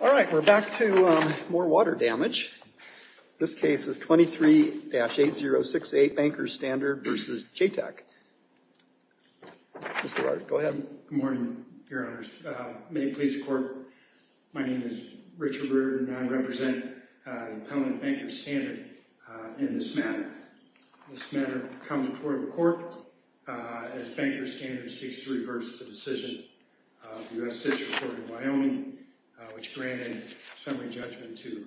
All right, we're back to more water damage. This case is 23-8068 Bankers Standard v. JTEC. Mr. Wright, go ahead. Good morning, Your Honors. May it please the Court, my name is Richard Brewer and I represent the Appellant Bankers Standard in this matter. This matter comes before the Court as Bankers Standard seeks to reverse the decision of the U.S. District Court of Wyoming, which granted summary judgment to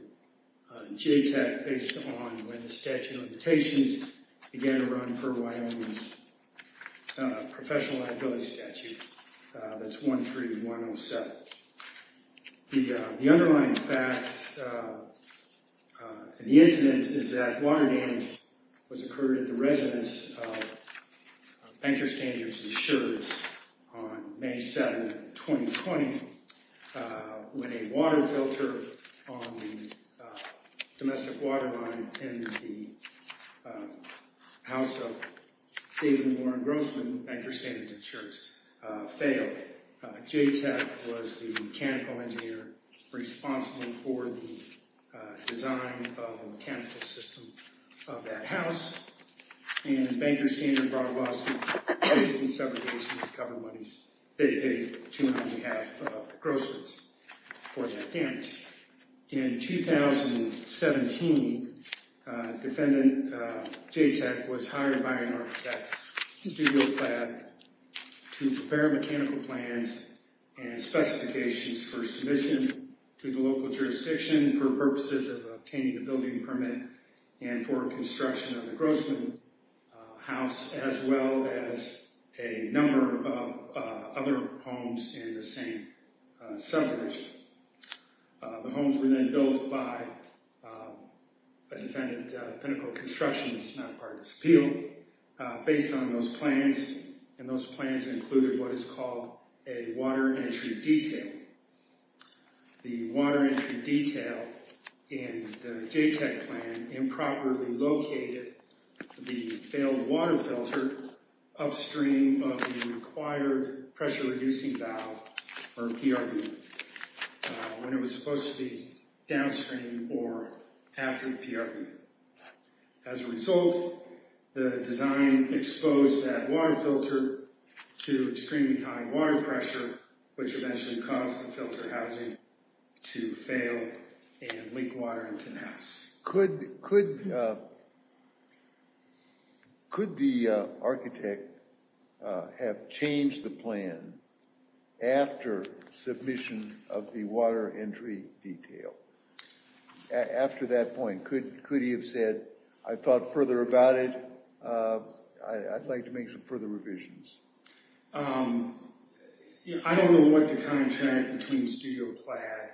JTEC based on when the statute of limitations began to run per Wyoming's professional liability statute, that's 13107. The underlying facts and the incident is that water damage was occurred at the residence of Bankers Standards Insurance on May 7, 2020, when a water filter on the domestic water line in the house of David Warren Grossman, Bankers Standards Insurance, failed. JTEC was the mechanical engineer responsible for the design of the mechanical system of that house and Bankers Standard brought a lawsuit based in several ways to recover money they paid to him on behalf of the Grossmans for that damage. In 2017, Defendant JTEC was hired by an architect, Studio Plaid, to prepare mechanical plans and specifications for submission to the local jurisdiction for purposes of obtaining a building permit and for construction of the Grossman house as well as a number of other homes in the same suburbs. The homes were then built by a defendant, Pinnacle Construction, which is not part of this appeal, based on those plans and those plans included what is called a water entry detail. The water entry detail in the JTEC plan improperly located the failed water filter upstream of the required pressure reducing valve, or PRV, when it was supposed to be downstream or after the PRV. As a result, the design exposed that water filter to extremely high water pressure, which eventually caused the filter housing to Could the architect have changed the plan after submission of the water entry detail? After that point, could he have said, I thought further about it, I'd like to make some further revisions? I don't know what the contract between Studio Plaid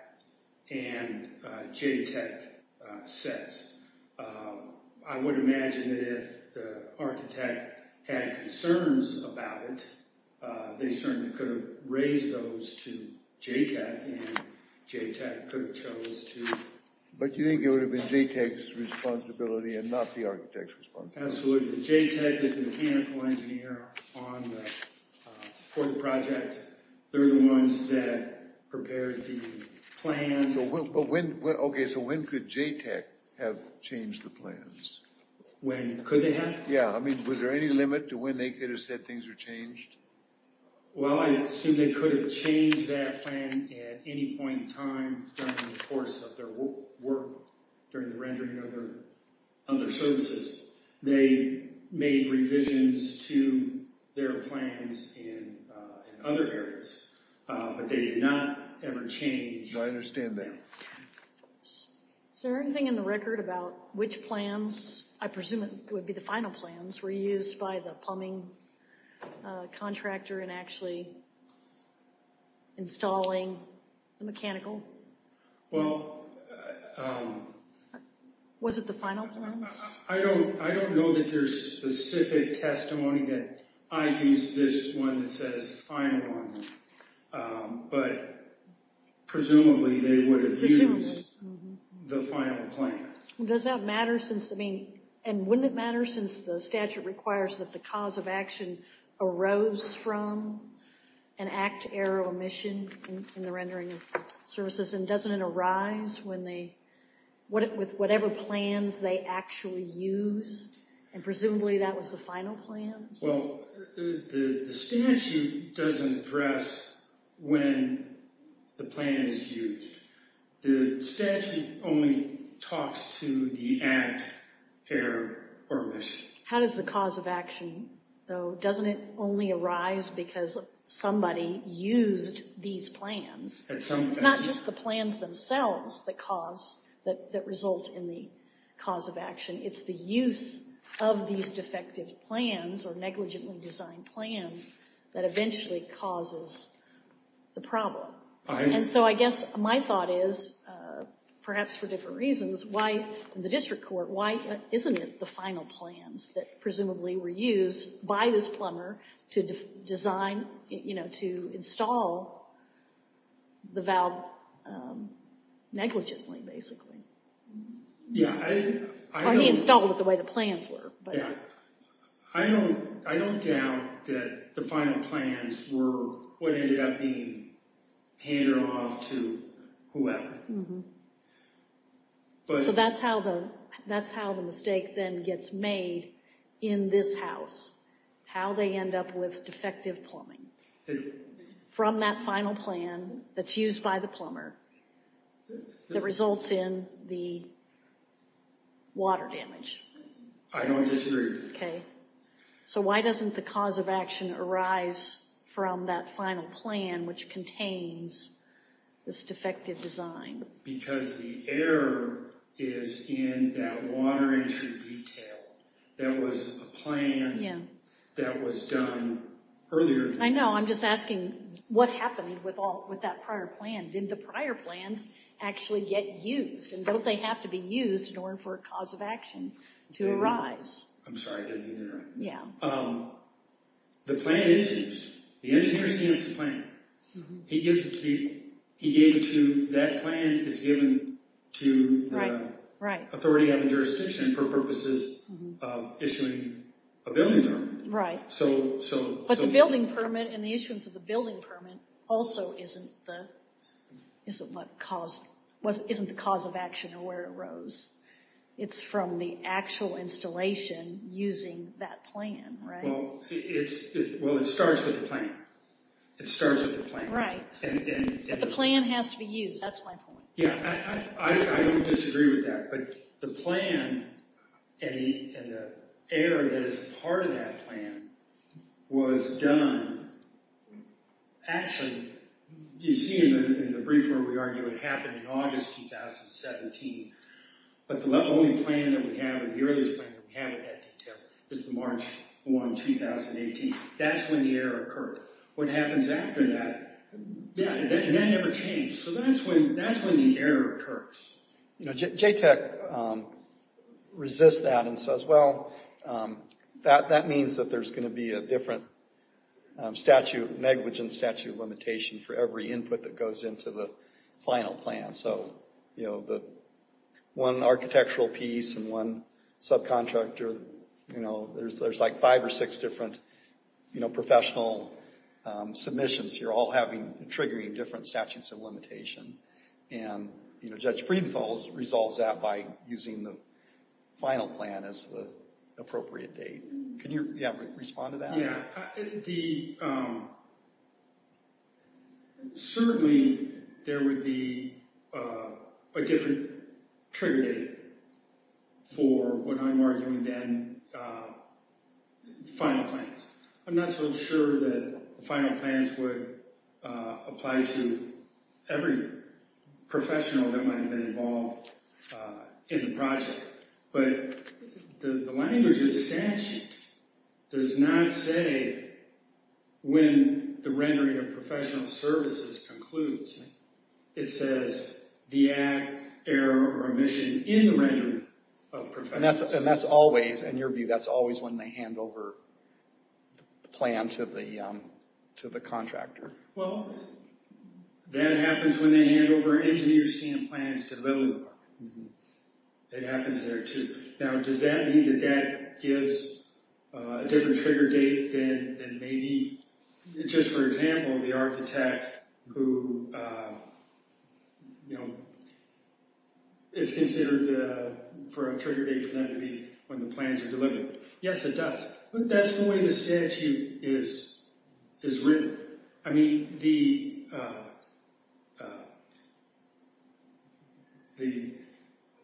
and JTEC says. I would imagine that if the architect had concerns about it, they certainly could have raised those to JTEC and JTEC could have chose to But you think it would have been JTEC's responsibility and not the architect's responsibility? Absolutely. JTEC is the mechanical engineer for the project. They're the ones that prepared the plans Okay, so when could JTEC have changed the plans? When could they have? Yeah, I mean, was there any limit to when they could have said things were changed? Well, I assume they could have changed that plan at any point in time during the course of their work during the rendering of their services. They made revisions to their plans in other areas, but they did not ever change I understand that. Is there anything in the record about which plans, I presume it would be the final plans, were used by the plumbing contractor in actually installing the mechanical? Well, um... Was it the final plans? I don't know that there's specific testimony that I've used this one that says final on them, but presumably they would have used the final plan Does that matter since, I mean, and wouldn't it matter since the statute requires that the cause of action arose from an act to error or omission in the rendering of services, and doesn't it arise with whatever plans they actually use? And presumably that was the final plan? Well, the statute doesn't address when the plan is used. The statute only talks to the act, error, or omission. How does the cause of action, though, doesn't it only arise because somebody used these plans? At some point. It's not just the plans themselves that cause, that result in the cause of action. It's the use of these defective plans or negligently designed plans that eventually causes the problem. And so I guess my thought is, perhaps for different reasons, why in the district court, why isn't it the final plans that presumably were used by this plumber to design, you know, to install the valve negligently, basically. Yeah, I don't... Or he installed it the way the plans were, but... I don't doubt that the final plans were what ended up being handed off to whoever. So that's how the mistake then gets made in this house, how they end up with defective plumbing. From that final plan that's used by the plumber that results in the water damage. I don't disagree. Okay. So why doesn't the cause of action arise from that final plan, which contains this defective design? Because the error is in that water entry detail. That was a plan that was done earlier. I know, I'm just asking, what happened with that prior plan? Did the prior plans actually get used? And don't they have to be used in order for a cause of action to arise? I'm sorry, I didn't hear that right. Yeah. The plan is used. The engineer sees the plan. He gives it to people. He gave it to... That plan is given to the authority of the jurisdiction for purposes of issuing a building permit. Right. But the building permit and the issuance of the building permit also isn't the cause of action or where it arose. It's from the actual installation using that plan, right? Well, it starts with the plan. It starts with the plan. Right. But the plan has to be used. That's my point. Yeah, I don't disagree with that. But the plan and the error that is part of that plan was done... You see in the brief where we argue it happened in August 2017. But the only plan that we have, the earliest plan that we have with that detail, is March 1, 2018. That's when the error occurred. What happens after that, yeah, that never changed. So that's when the error occurs. JTAC resists that and says, well, that means that there's going to be a different statute, negligent statute of limitation for every input that goes into the final plan. So one architectural piece and one subcontractor, there's like five or six different professional submissions you're all triggering different statutes of limitation. And Judge Friedenthal resolves that by using the final plan as the appropriate date. Can you respond to that? Yeah, certainly there would be a different trigger date for what I'm arguing then, final plans. I'm not so sure that final plans would apply to every professional that might have been involved in the project. But the language of the statute does not say when the rendering of professional services concludes. It says the act, error, or omission in the rendering of professional services. And that's always, in your view, that's always when they hand over the plan to the contractor. Well, that happens when they hand over engineers' stand plans to the building department. It happens there, too. Now, does that mean that that gives a different trigger date than maybe, just for example, the architect who is considered for a trigger date for that to be when the plans are delivered? Yes, it does. But that's the way the statute is written. I mean, the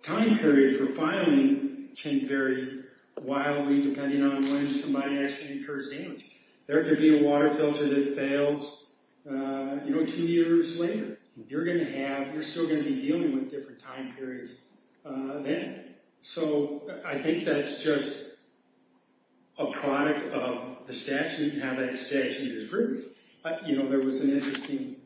time period for filing can vary wildly depending on when somebody actually incurs damage. There could be a water filter that fails, you know, two years later. You're still going to be dealing with different time periods then. So, I think that's just a product of the statute and how that statute is written. You know, there was an interesting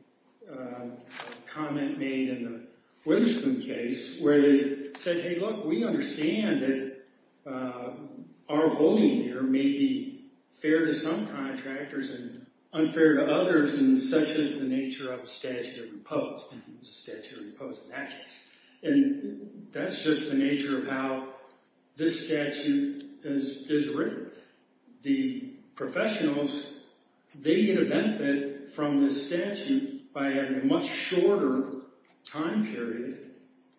comment made in the Witherspoon case where they said, hey, look, we understand that our voting here may be fair to some contractors and unfair to others, and such is the nature of a statute of repose. Statute of repose in that case. And that's just the nature of how this statute is written. The professionals, they get a benefit from this statute by having a much shorter time period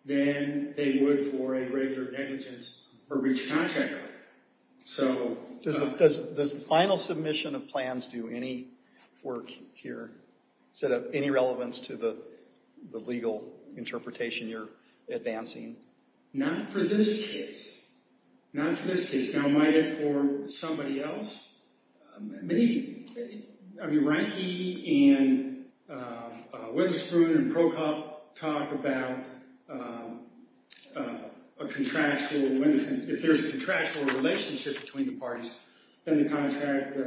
than they would for a regular negligence or breach of contract claim. Does the final submission of plans do any work here? Does it have any relevance to the legal interpretation you're advancing? Not for this case. Not for this case. Now, might it for somebody else? I mean, Reinke and Witherspoon and Procop talk about a contractual, if there's a contractual relationship between the parties, then the contract,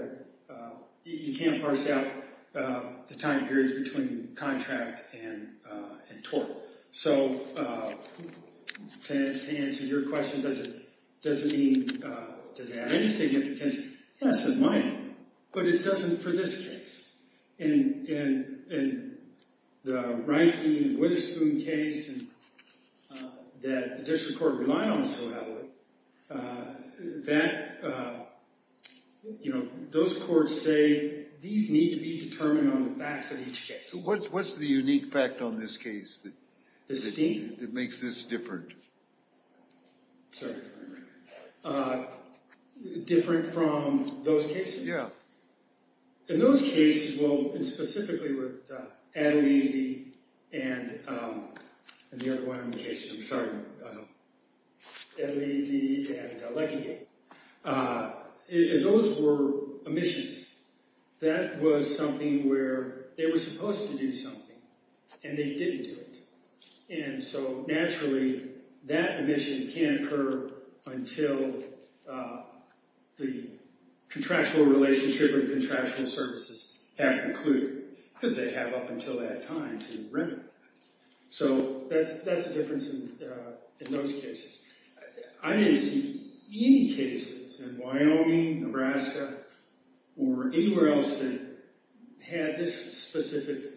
you can't parse out the time periods between contract and tort. So, to answer your question, does it mean, does it have any significance? Yes, it might, but it doesn't for this case. In the Reinke and Witherspoon case that the district court relied on so heavily, that, you know, those courts say these need to be determined on the facts of each case. So what's the unique fact on this case that makes this different? Sorry. Different from those cases? Yeah. In those cases, well, and specifically with Adalisi and the other one on the case, I'm sorry, Adalisi and Leckie, those were omissions. That was something where they were supposed to do something, and they didn't do it. And so, naturally, that omission can't occur until the contractual relationship and contractual services have concluded, because they have up until that time to render. So that's the difference in those cases. I didn't see any cases in Wyoming, Nebraska, or anywhere else that had this specific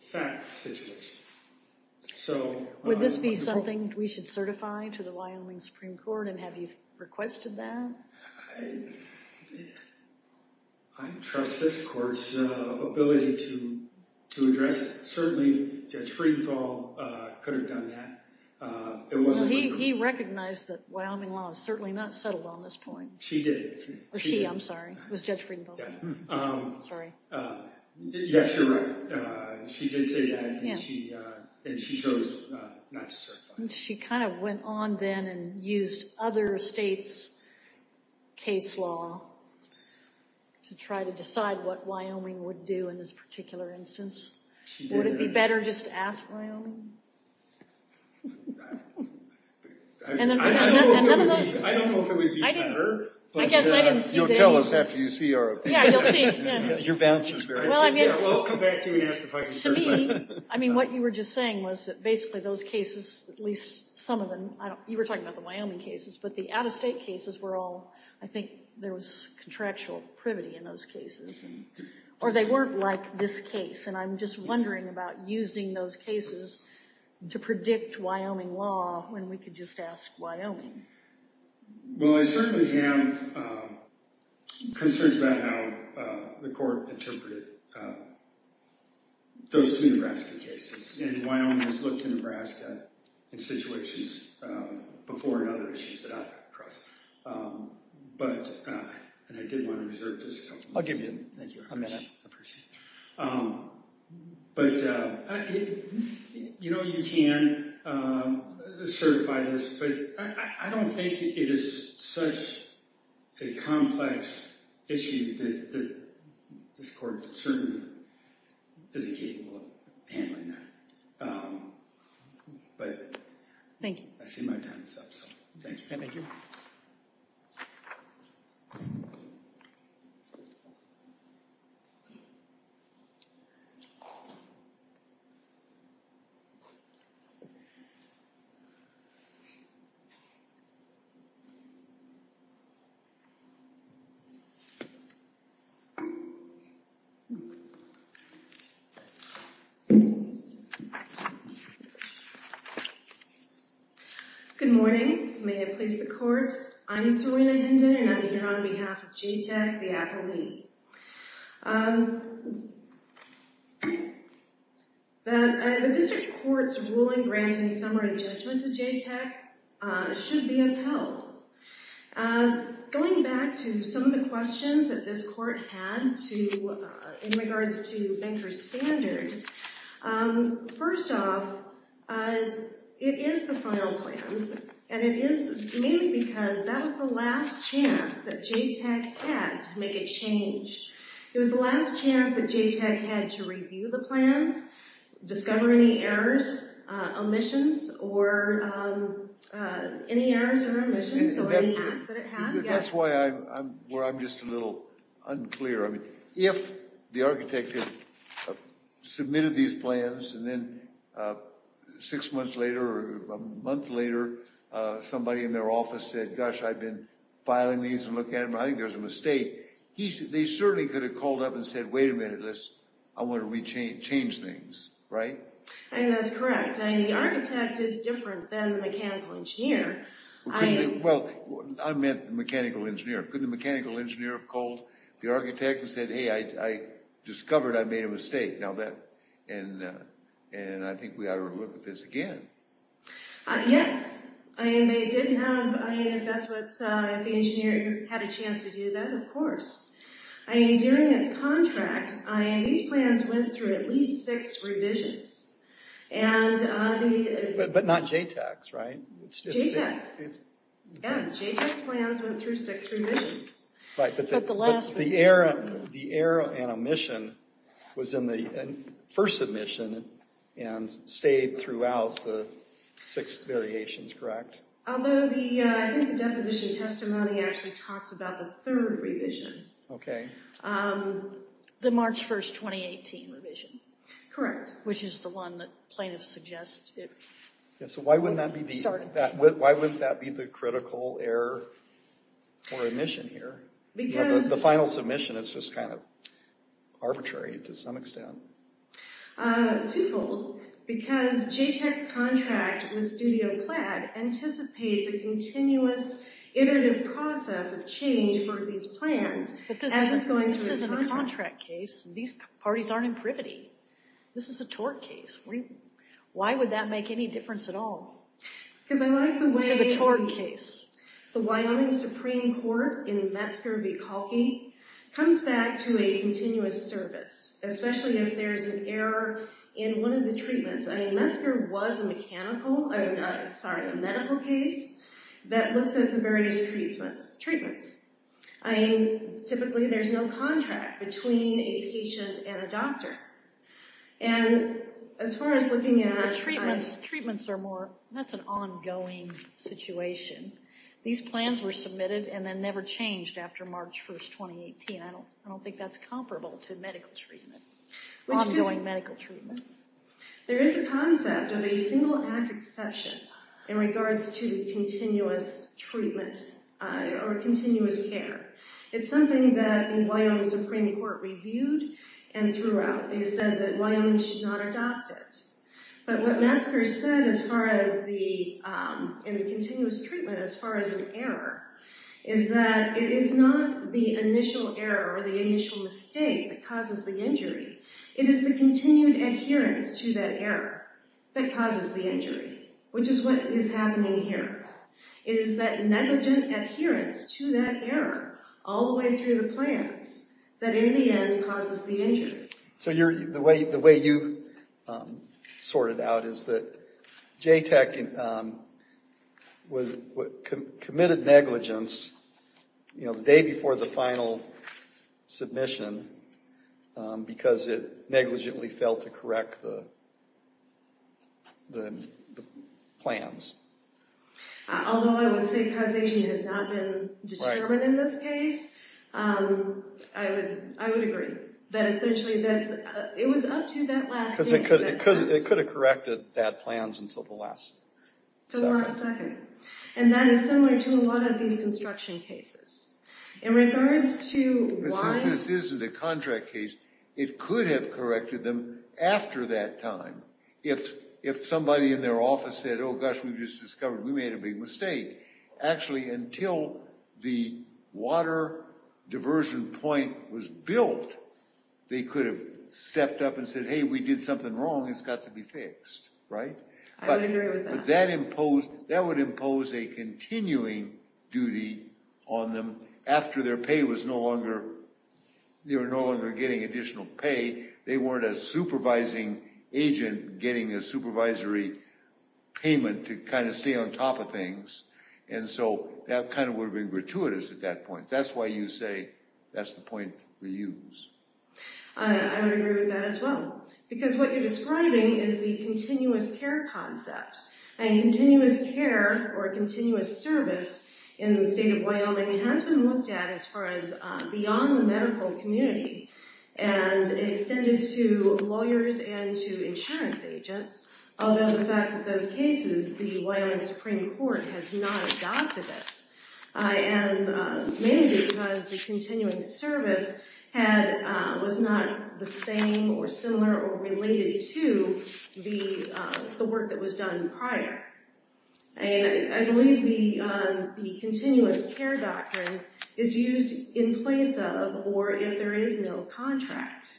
fact situation. Would this be something we should certify to the Wyoming Supreme Court? And have you requested that? I trust this court's ability to address it. Certainly, Judge Friedenthal could have done that. He recognized that Wyoming law is certainly not settled on this point. She did. Or she, I'm sorry. It was Judge Friedenthal. Sorry. Yes, you're right. She did say that, and she chose not to certify. She kind of went on then and used other states' case law to try to decide what Wyoming would do in this particular instance. Would it be better just to ask Wyoming? I don't know if it would be better. I guess I didn't see those. You'll tell us after you see our opinion. Your balance is very good. I'll come back to you and ask if I can certify. To me, what you were just saying was that basically those cases, at least some of them, you were talking about the Wyoming cases, but the out-of-state cases were all, I think there was contractual privity in those cases. Or they weren't like this case. And I'm just wondering about using those cases to predict Wyoming law when we could just ask Wyoming. Well, I certainly have concerns about how the court interpreted those two Nebraska cases. And Wyoming has looked to Nebraska in situations before in other issues that I've come across. And I did want to reserve just a couple of minutes. I'll give you a minute. Thank you. I appreciate it. But you know you can certify this, but I don't think it is such a complex issue that this court certainly isn't capable of handling that. Thank you. I see my time is up. Thank you. Thank you. Thank you. Good morning. May it please the court. I'm Serena Hinden, and I'm here on behalf of JTAC, the appellee. The district court's ruling granting summary judgment to JTAC should be upheld. Going back to some of the questions that this court had in regards to banker's standard, first off, it is the final plans. And it is mainly because that was the last chance that JTAC had to make a change. It was the last chance that JTAC had to review the plans, discover any errors, omissions, or any errors or omissions or any acts that it had. That's where I'm just a little unclear. I mean, if the architect had submitted these plans, and then six months later or a month later, somebody in their office said, gosh, I've been filing these and looking at them, I think there's a mistake. They certainly could have called up and said, wait a minute, I want to change things. Right? I think that's correct. I mean, the architect is different than the mechanical engineer. Well, I meant the mechanical engineer. Couldn't the mechanical engineer have called the architect and said, hey, I discovered I made a mistake. And I think we ought to look at this again. Yes. I mean, they did have, I mean, if that's what the engineer had a chance to do, then of course. I mean, during its contract, these plans went through at least six revisions. But not JTACs, right? JTACs. Yeah, JTAC plans went through six revisions. Right. But the error and omission was in the first submission and stayed throughout the six variations, correct? Although the deposition testimony actually talks about the third revision. OK. The March 1, 2018 revision. Correct. Which is the one that plaintiffs suggested. So why wouldn't that be the critical error or omission here? Because the final submission is just kind of arbitrary to some extent. Twofold. Because JTAC's contract with Studio Plaid anticipates a continuous iterative process of change for these plans. This isn't a contract case. These parties aren't in privity. This is a tort case. Why would that make any difference at all? Because I like the way the Wyoming Supreme Court in Metzger v. Kalki comes back to a continuous service, especially if there's an error in one of the treatments. I mean, Metzger was a medical case that looks at the various treatments. I mean, typically there's no contract between a patient and a doctor. And as far as looking at— Treatments are more—that's an ongoing situation. These plans were submitted and then never changed after March 1, 2018. I don't think that's comparable to medical treatment, ongoing medical treatment. There is a concept of a single act exception in regards to continuous treatment or continuous care. It's something that the Wyoming Supreme Court reviewed and threw out. They said that Wyoming should not adopt it. But what Metzger said as far as the—in the continuous treatment as far as an error is that it is not the initial error or the initial mistake that causes the injury. It is the continued adherence to that error that causes the injury, which is what is happening here. It is that negligent adherence to that error all the way through the plans that in the end causes the injury. So the way you sort it out is that JTAC committed negligence the day before the final submission because it negligently failed to correct the plans. Although I would say causation has not been determined in this case, I would agree that essentially it was up to that last— Because it could have corrected that plans until the last second. Until the last second. And that is similar to a lot of these construction cases. In regards to why— This isn't a contract case. It could have corrected them after that time. If somebody in their office said, oh, gosh, we just discovered we made a big mistake. Actually, until the water diversion point was built, they could have stepped up and said, hey, we did something wrong. It's got to be fixed, right? I would agree with that. That would impose a continuing duty on them after their pay was no longer— they were no longer getting additional pay. They weren't a supervising agent getting a supervisory payment to kind of stay on top of things. And so that kind of would have been gratuitous at that point. That's why you say that's the point we use. I would agree with that as well. Because what you're describing is the continuous care concept. And continuous care or continuous service in the state of Wyoming has been looked at as far as beyond the medical community. And extended to lawyers and to insurance agents. Although the facts of those cases, the Wyoming Supreme Court has not adopted it. Mainly because the continuing service was not the same or similar or related to the work that was done prior. And I believe the continuous care doctrine is used in place of or if there is no contract.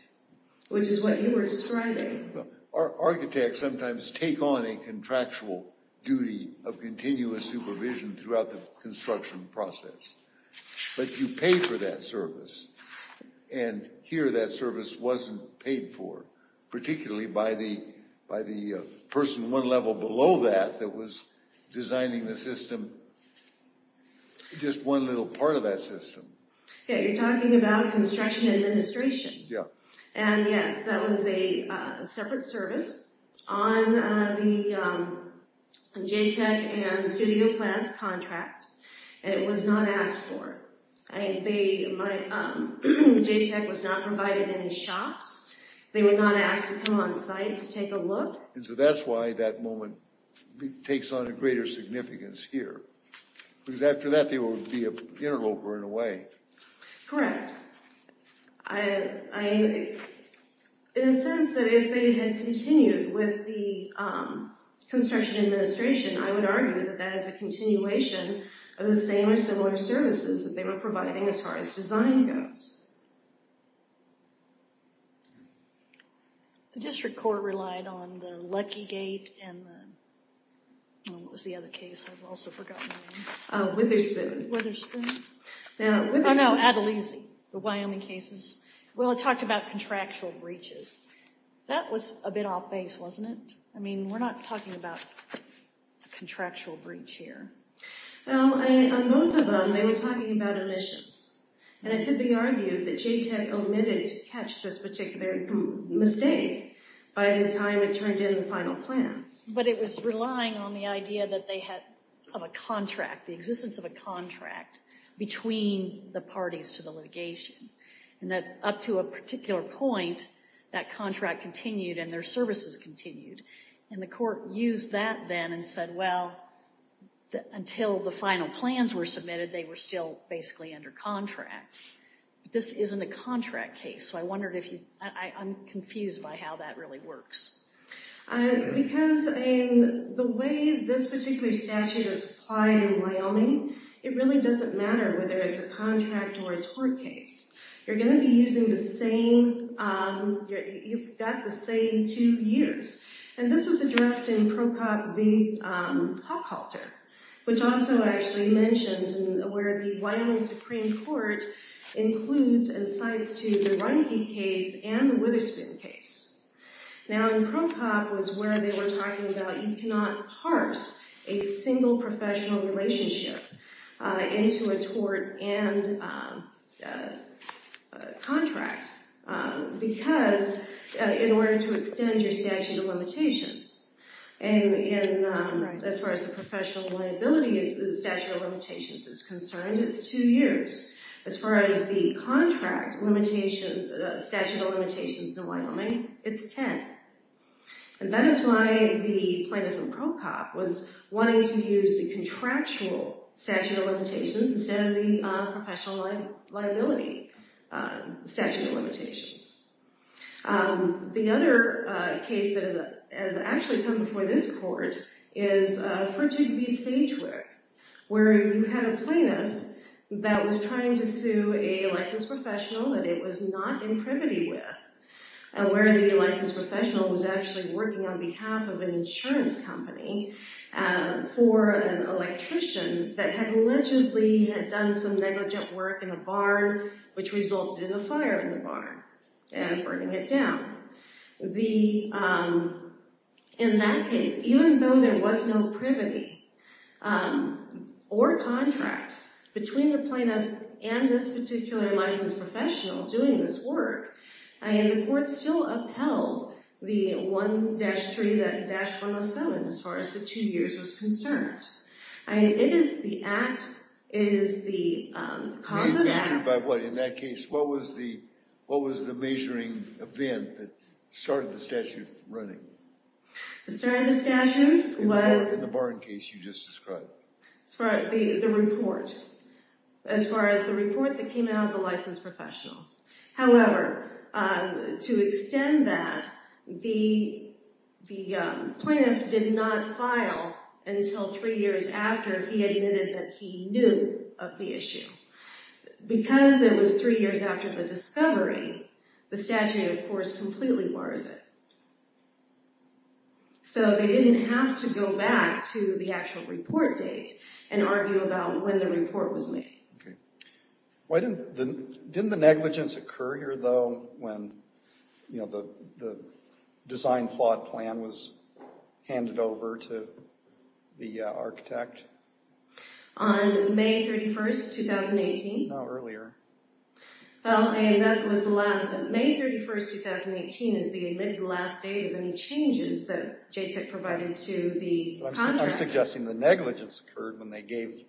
Which is what you were describing. Architects sometimes take on a contractual duty of continuous supervision throughout the construction process. But you pay for that service. And here that service wasn't paid for. Particularly by the person one level below that that was designing the system. Just one little part of that system. Yeah, you're talking about construction administration. And yes, that was a separate service on the JTEC and studio plans contract. And it was not asked for. JTEC was not provided in the shops. They were not asked to come on site to take a look. So that's why that moment takes on a greater significance here. Because after that they would be an interloper in a way. Correct. In a sense that if they had continued with the construction administration, I would argue that that is a continuation of the same or similar services that they were providing as far as design goes. The district court relied on the Lucky Gate and what was the other case? I've also forgotten the name. Witherspoon. Witherspoon. Oh no, Adalisi. The Wyoming cases. Well, it talked about contractual breaches. That was a bit off base, wasn't it? I mean, we're not talking about a contractual breach here. Well, on both of them they were talking about omissions. And it could be argued that JTEC omitted to catch this particular mistake by the time it turned in the final plans. But it was relying on the idea that they had a contract, the existence of a contract between the parties to the litigation. And that up to a particular point that contract continued and their services continued. And the court used that then and said, well, until the final plans were submitted they were still basically under contract. This isn't a contract case. So I'm confused by how that really works. Because the way this particular statute is applied in Wyoming, it really doesn't matter whether it's a contract or a tort case. You're going to be using the same, you've got the same two years. And this was addressed in Pro Cop v. Hochhalter, which also actually mentions where the Wyoming Supreme Court includes and cites to the Runke case and the Witherspoon case. Now, in Pro Cop was where they were talking about you cannot parse a single professional relationship into a tort and contract. Because in order to extend your statute of limitations, as far as the professional liability statute of limitations is concerned, it's two years. As far as the contract statute of limitations in Wyoming, it's 10. And that is why the plaintiff in Pro Cop was wanting to use the contractual statute of limitations instead of the professional liability statute of limitations. The other case that has actually come before this court is Fritig v. Sagewick, where you had a plaintiff that was trying to sue a licensed professional that it was not in privity with. And where the licensed professional was actually working on behalf of an insurance company for an electrician that had allegedly had done some negligent work in a barn, which resulted in a fire in the barn and burning it down. In that case, even though there was no privity or contract between the plaintiff and this particular licensed professional doing this work, the court still upheld the 1-3-107 as far as the two years was concerned. It is the act. It is the cause of act. Measured by what? In that case, what was the measuring event that started the statute running? The start of the statute was... In the barn case you just described. The report. As far as the report that came out of the licensed professional. However, to extend that, the plaintiff did not file until three years after he had admitted that he knew of the issue. Because it was three years after the discovery, the statute, of course, completely bars it. So they didn't have to go back to the actual report date and argue about when the report was made. Didn't the negligence occur here, though, when the design flawed plan was handed over to the architect? On May 31st, 2018. No, earlier. May 31st, 2018 is the admitted last date of any changes that JTIC provided to the contract. I'm suggesting the negligence occurred when they gave the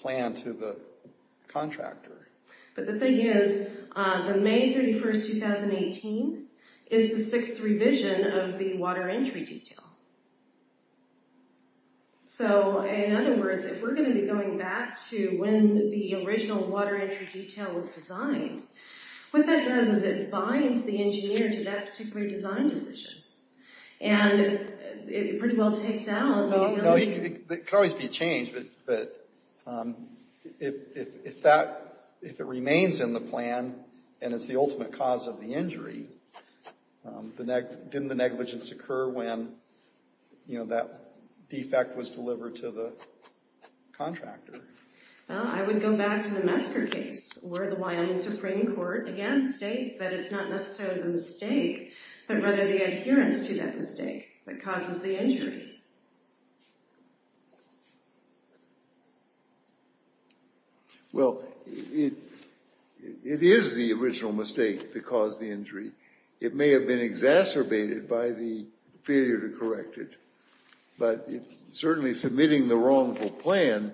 plan to the contractor. But the thing is, the May 31st, 2018 is the sixth revision of the water entry detail. So, in other words, if we're going to be going back to when the original water entry detail was designed, what that does is it binds the engineer to that particular design decision. And it pretty well takes out the ability to- It could always be a change, but if it remains in the plan, and it's the ultimate cause of the injury, didn't the negligence occur when that defect was delivered to the contractor? I would go back to the Messker case, where the Wyoming Supreme Court, again, states that it's not necessarily the mistake, but rather the adherence to that mistake that causes the injury. Well, it is the original mistake that caused the injury. It may have been exacerbated by the failure to correct it. But certainly submitting the wrongful plan,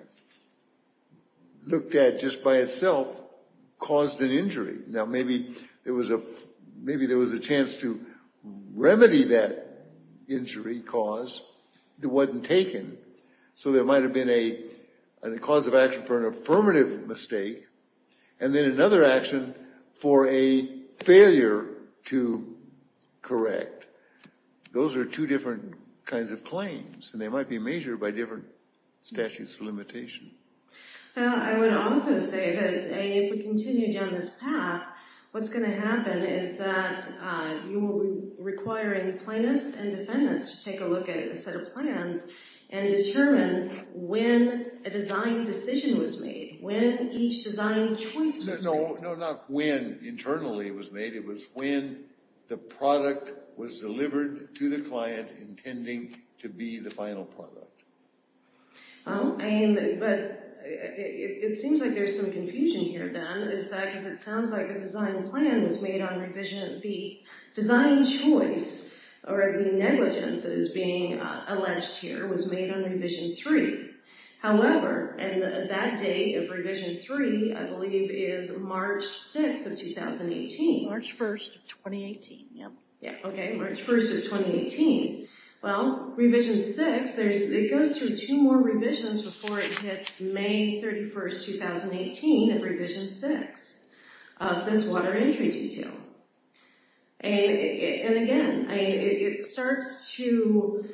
looked at just by itself, caused an injury. Now, maybe there was a chance to remedy that injury cause that wasn't taken. So there might have been a cause of action for an affirmative mistake, and then another action for a failure to correct. Those are two different kinds of claims, and they might be measured by different statutes of limitation. Well, I would also say that if we continue down this path, what's going to happen is that you will be requiring plaintiffs and defendants to take a look at a set of plans and determine when a design decision was made, when each design choice was made. No, not when internally it was made. It was when the product was delivered to the client intending to be the final product. Well, but it seems like there's some confusion here then. Is that because it sounds like the design plan was made on Revision B. Design choice, or the negligence that is being alleged here, was made on Revision 3. However, and that date of Revision 3, I believe, is March 6th of 2018. March 1st of 2018, yep. Yeah, okay, March 1st of 2018. Well, Revision 6, it goes through two more revisions before it hits May 31st, 2018 of Revision 6, of this water entry detail. And again, it starts to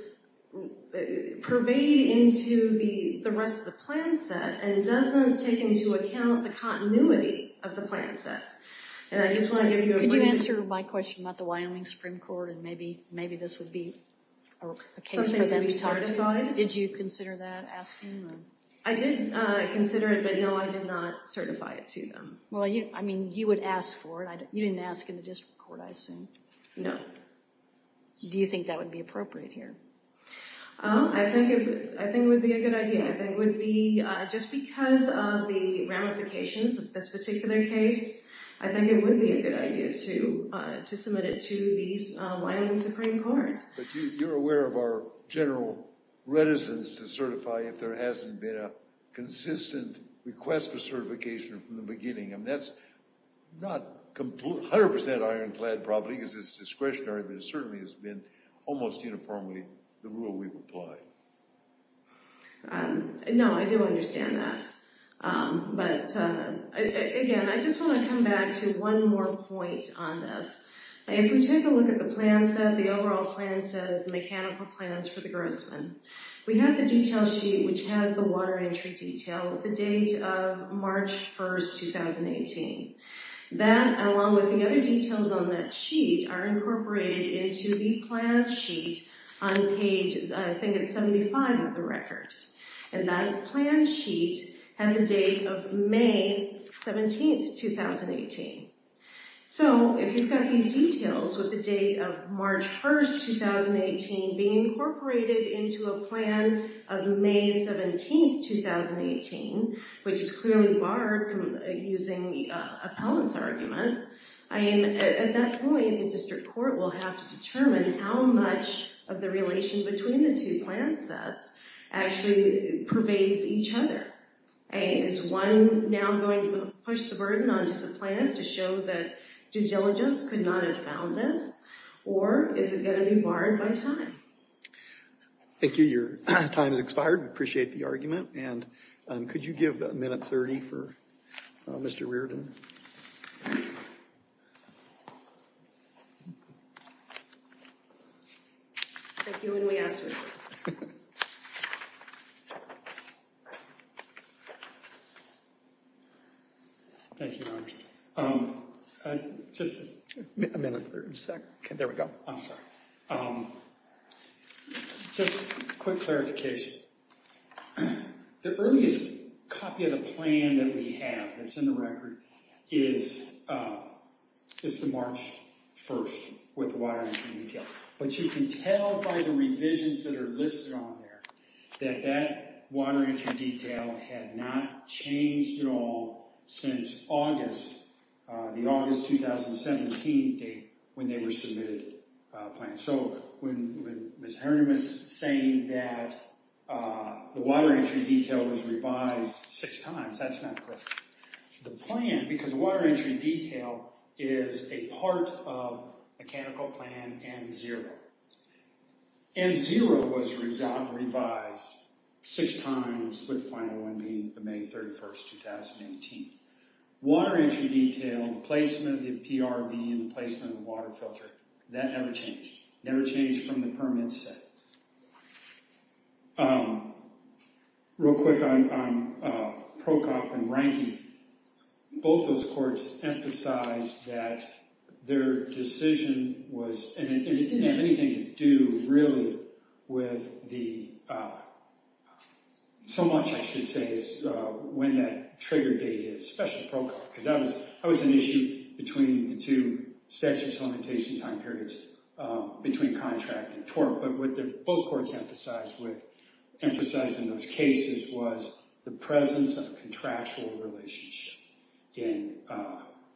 pervade into the rest of the plan set and doesn't take into account the continuity of the plan set. And I just want to give you a brief... about the Wyoming Supreme Court, and maybe this would be a case for them to talk to. Something to be certified? Did you consider that, ask them? I did consider it, but no, I did not certify it to them. Well, I mean, you would ask for it. You didn't ask in the district court, I assume. No. Do you think that would be appropriate here? I think it would be a good idea. I think it would be, just because of the ramifications of this particular case, I think it would be a good idea to submit it to the Wyoming Supreme Court. But you're aware of our general reticence to certify if there hasn't been a consistent request for certification from the beginning. I mean, that's not 100% ironclad probably, because it's discretionary, but it certainly has been almost uniformly the rule we've applied. No, I do understand that. But again, I just want to come back to one more point on this. If we take a look at the overall plan set of mechanical plans for the Grossman, we have the detail sheet which has the water entry detail with the date of March 1, 2018. That, along with the other details on that sheet, are incorporated into the plan sheet on page, I think it's 75 of the record. And that plan sheet has a date of May 17, 2018. So, if you've got these details with the date of March 1, 2018 being incorporated into a plan of May 17, 2018, which is clearly barred using the appellant's argument, at that point, the district court will have to determine how much of the relation between the two plan sets actually pervades each other. Is one now going to push the burden onto the plan to show that due diligence could not have found this, or is it going to be barred by time? Thank you. Your time has expired. We appreciate the argument. And could you give a minute 30 for Mr. Reardon? Thank you, and we ask for your time. Thank you, Your Honor. Just a minute. Okay, there we go. I'm sorry. Just a quick clarification. The earliest copy of the plan that we have that's in the record is the March 1st with the water entry detail. But you can tell by the revisions that are listed on there that that water entry detail had not changed at all since August, the August 2017 date when they were submitted a plan. So, when Ms. Herndon was saying that the water entry detail was revised six times, that's not correct. The plan, because the water entry detail is a part of mechanical plan M0. M0 was revised six times with the final one being the May 31st, 2018. Water entry detail, the placement of the PRV, and the placement of the water filter, that never changed. Never changed from the permit set. Real quick on PROCOP and ranking. Both those courts emphasized that their decision was, and it didn't have anything to do really with the, so much I should say, is when that trigger date is, especially PROCOP, because that was an issue between the two statute supplementation time periods between contract and tort. But what both courts emphasized in those cases was the presence of contractual relationship in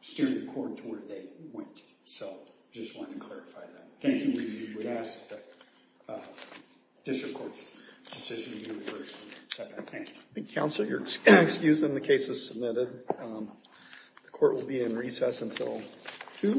steering the court to where they went. So, just wanted to clarify that. Thank you. We would ask that District Court's decision be reversed. Thank you. Thank you, counsel. You're excused on the cases submitted. The court will be in recess until 2. Thank you.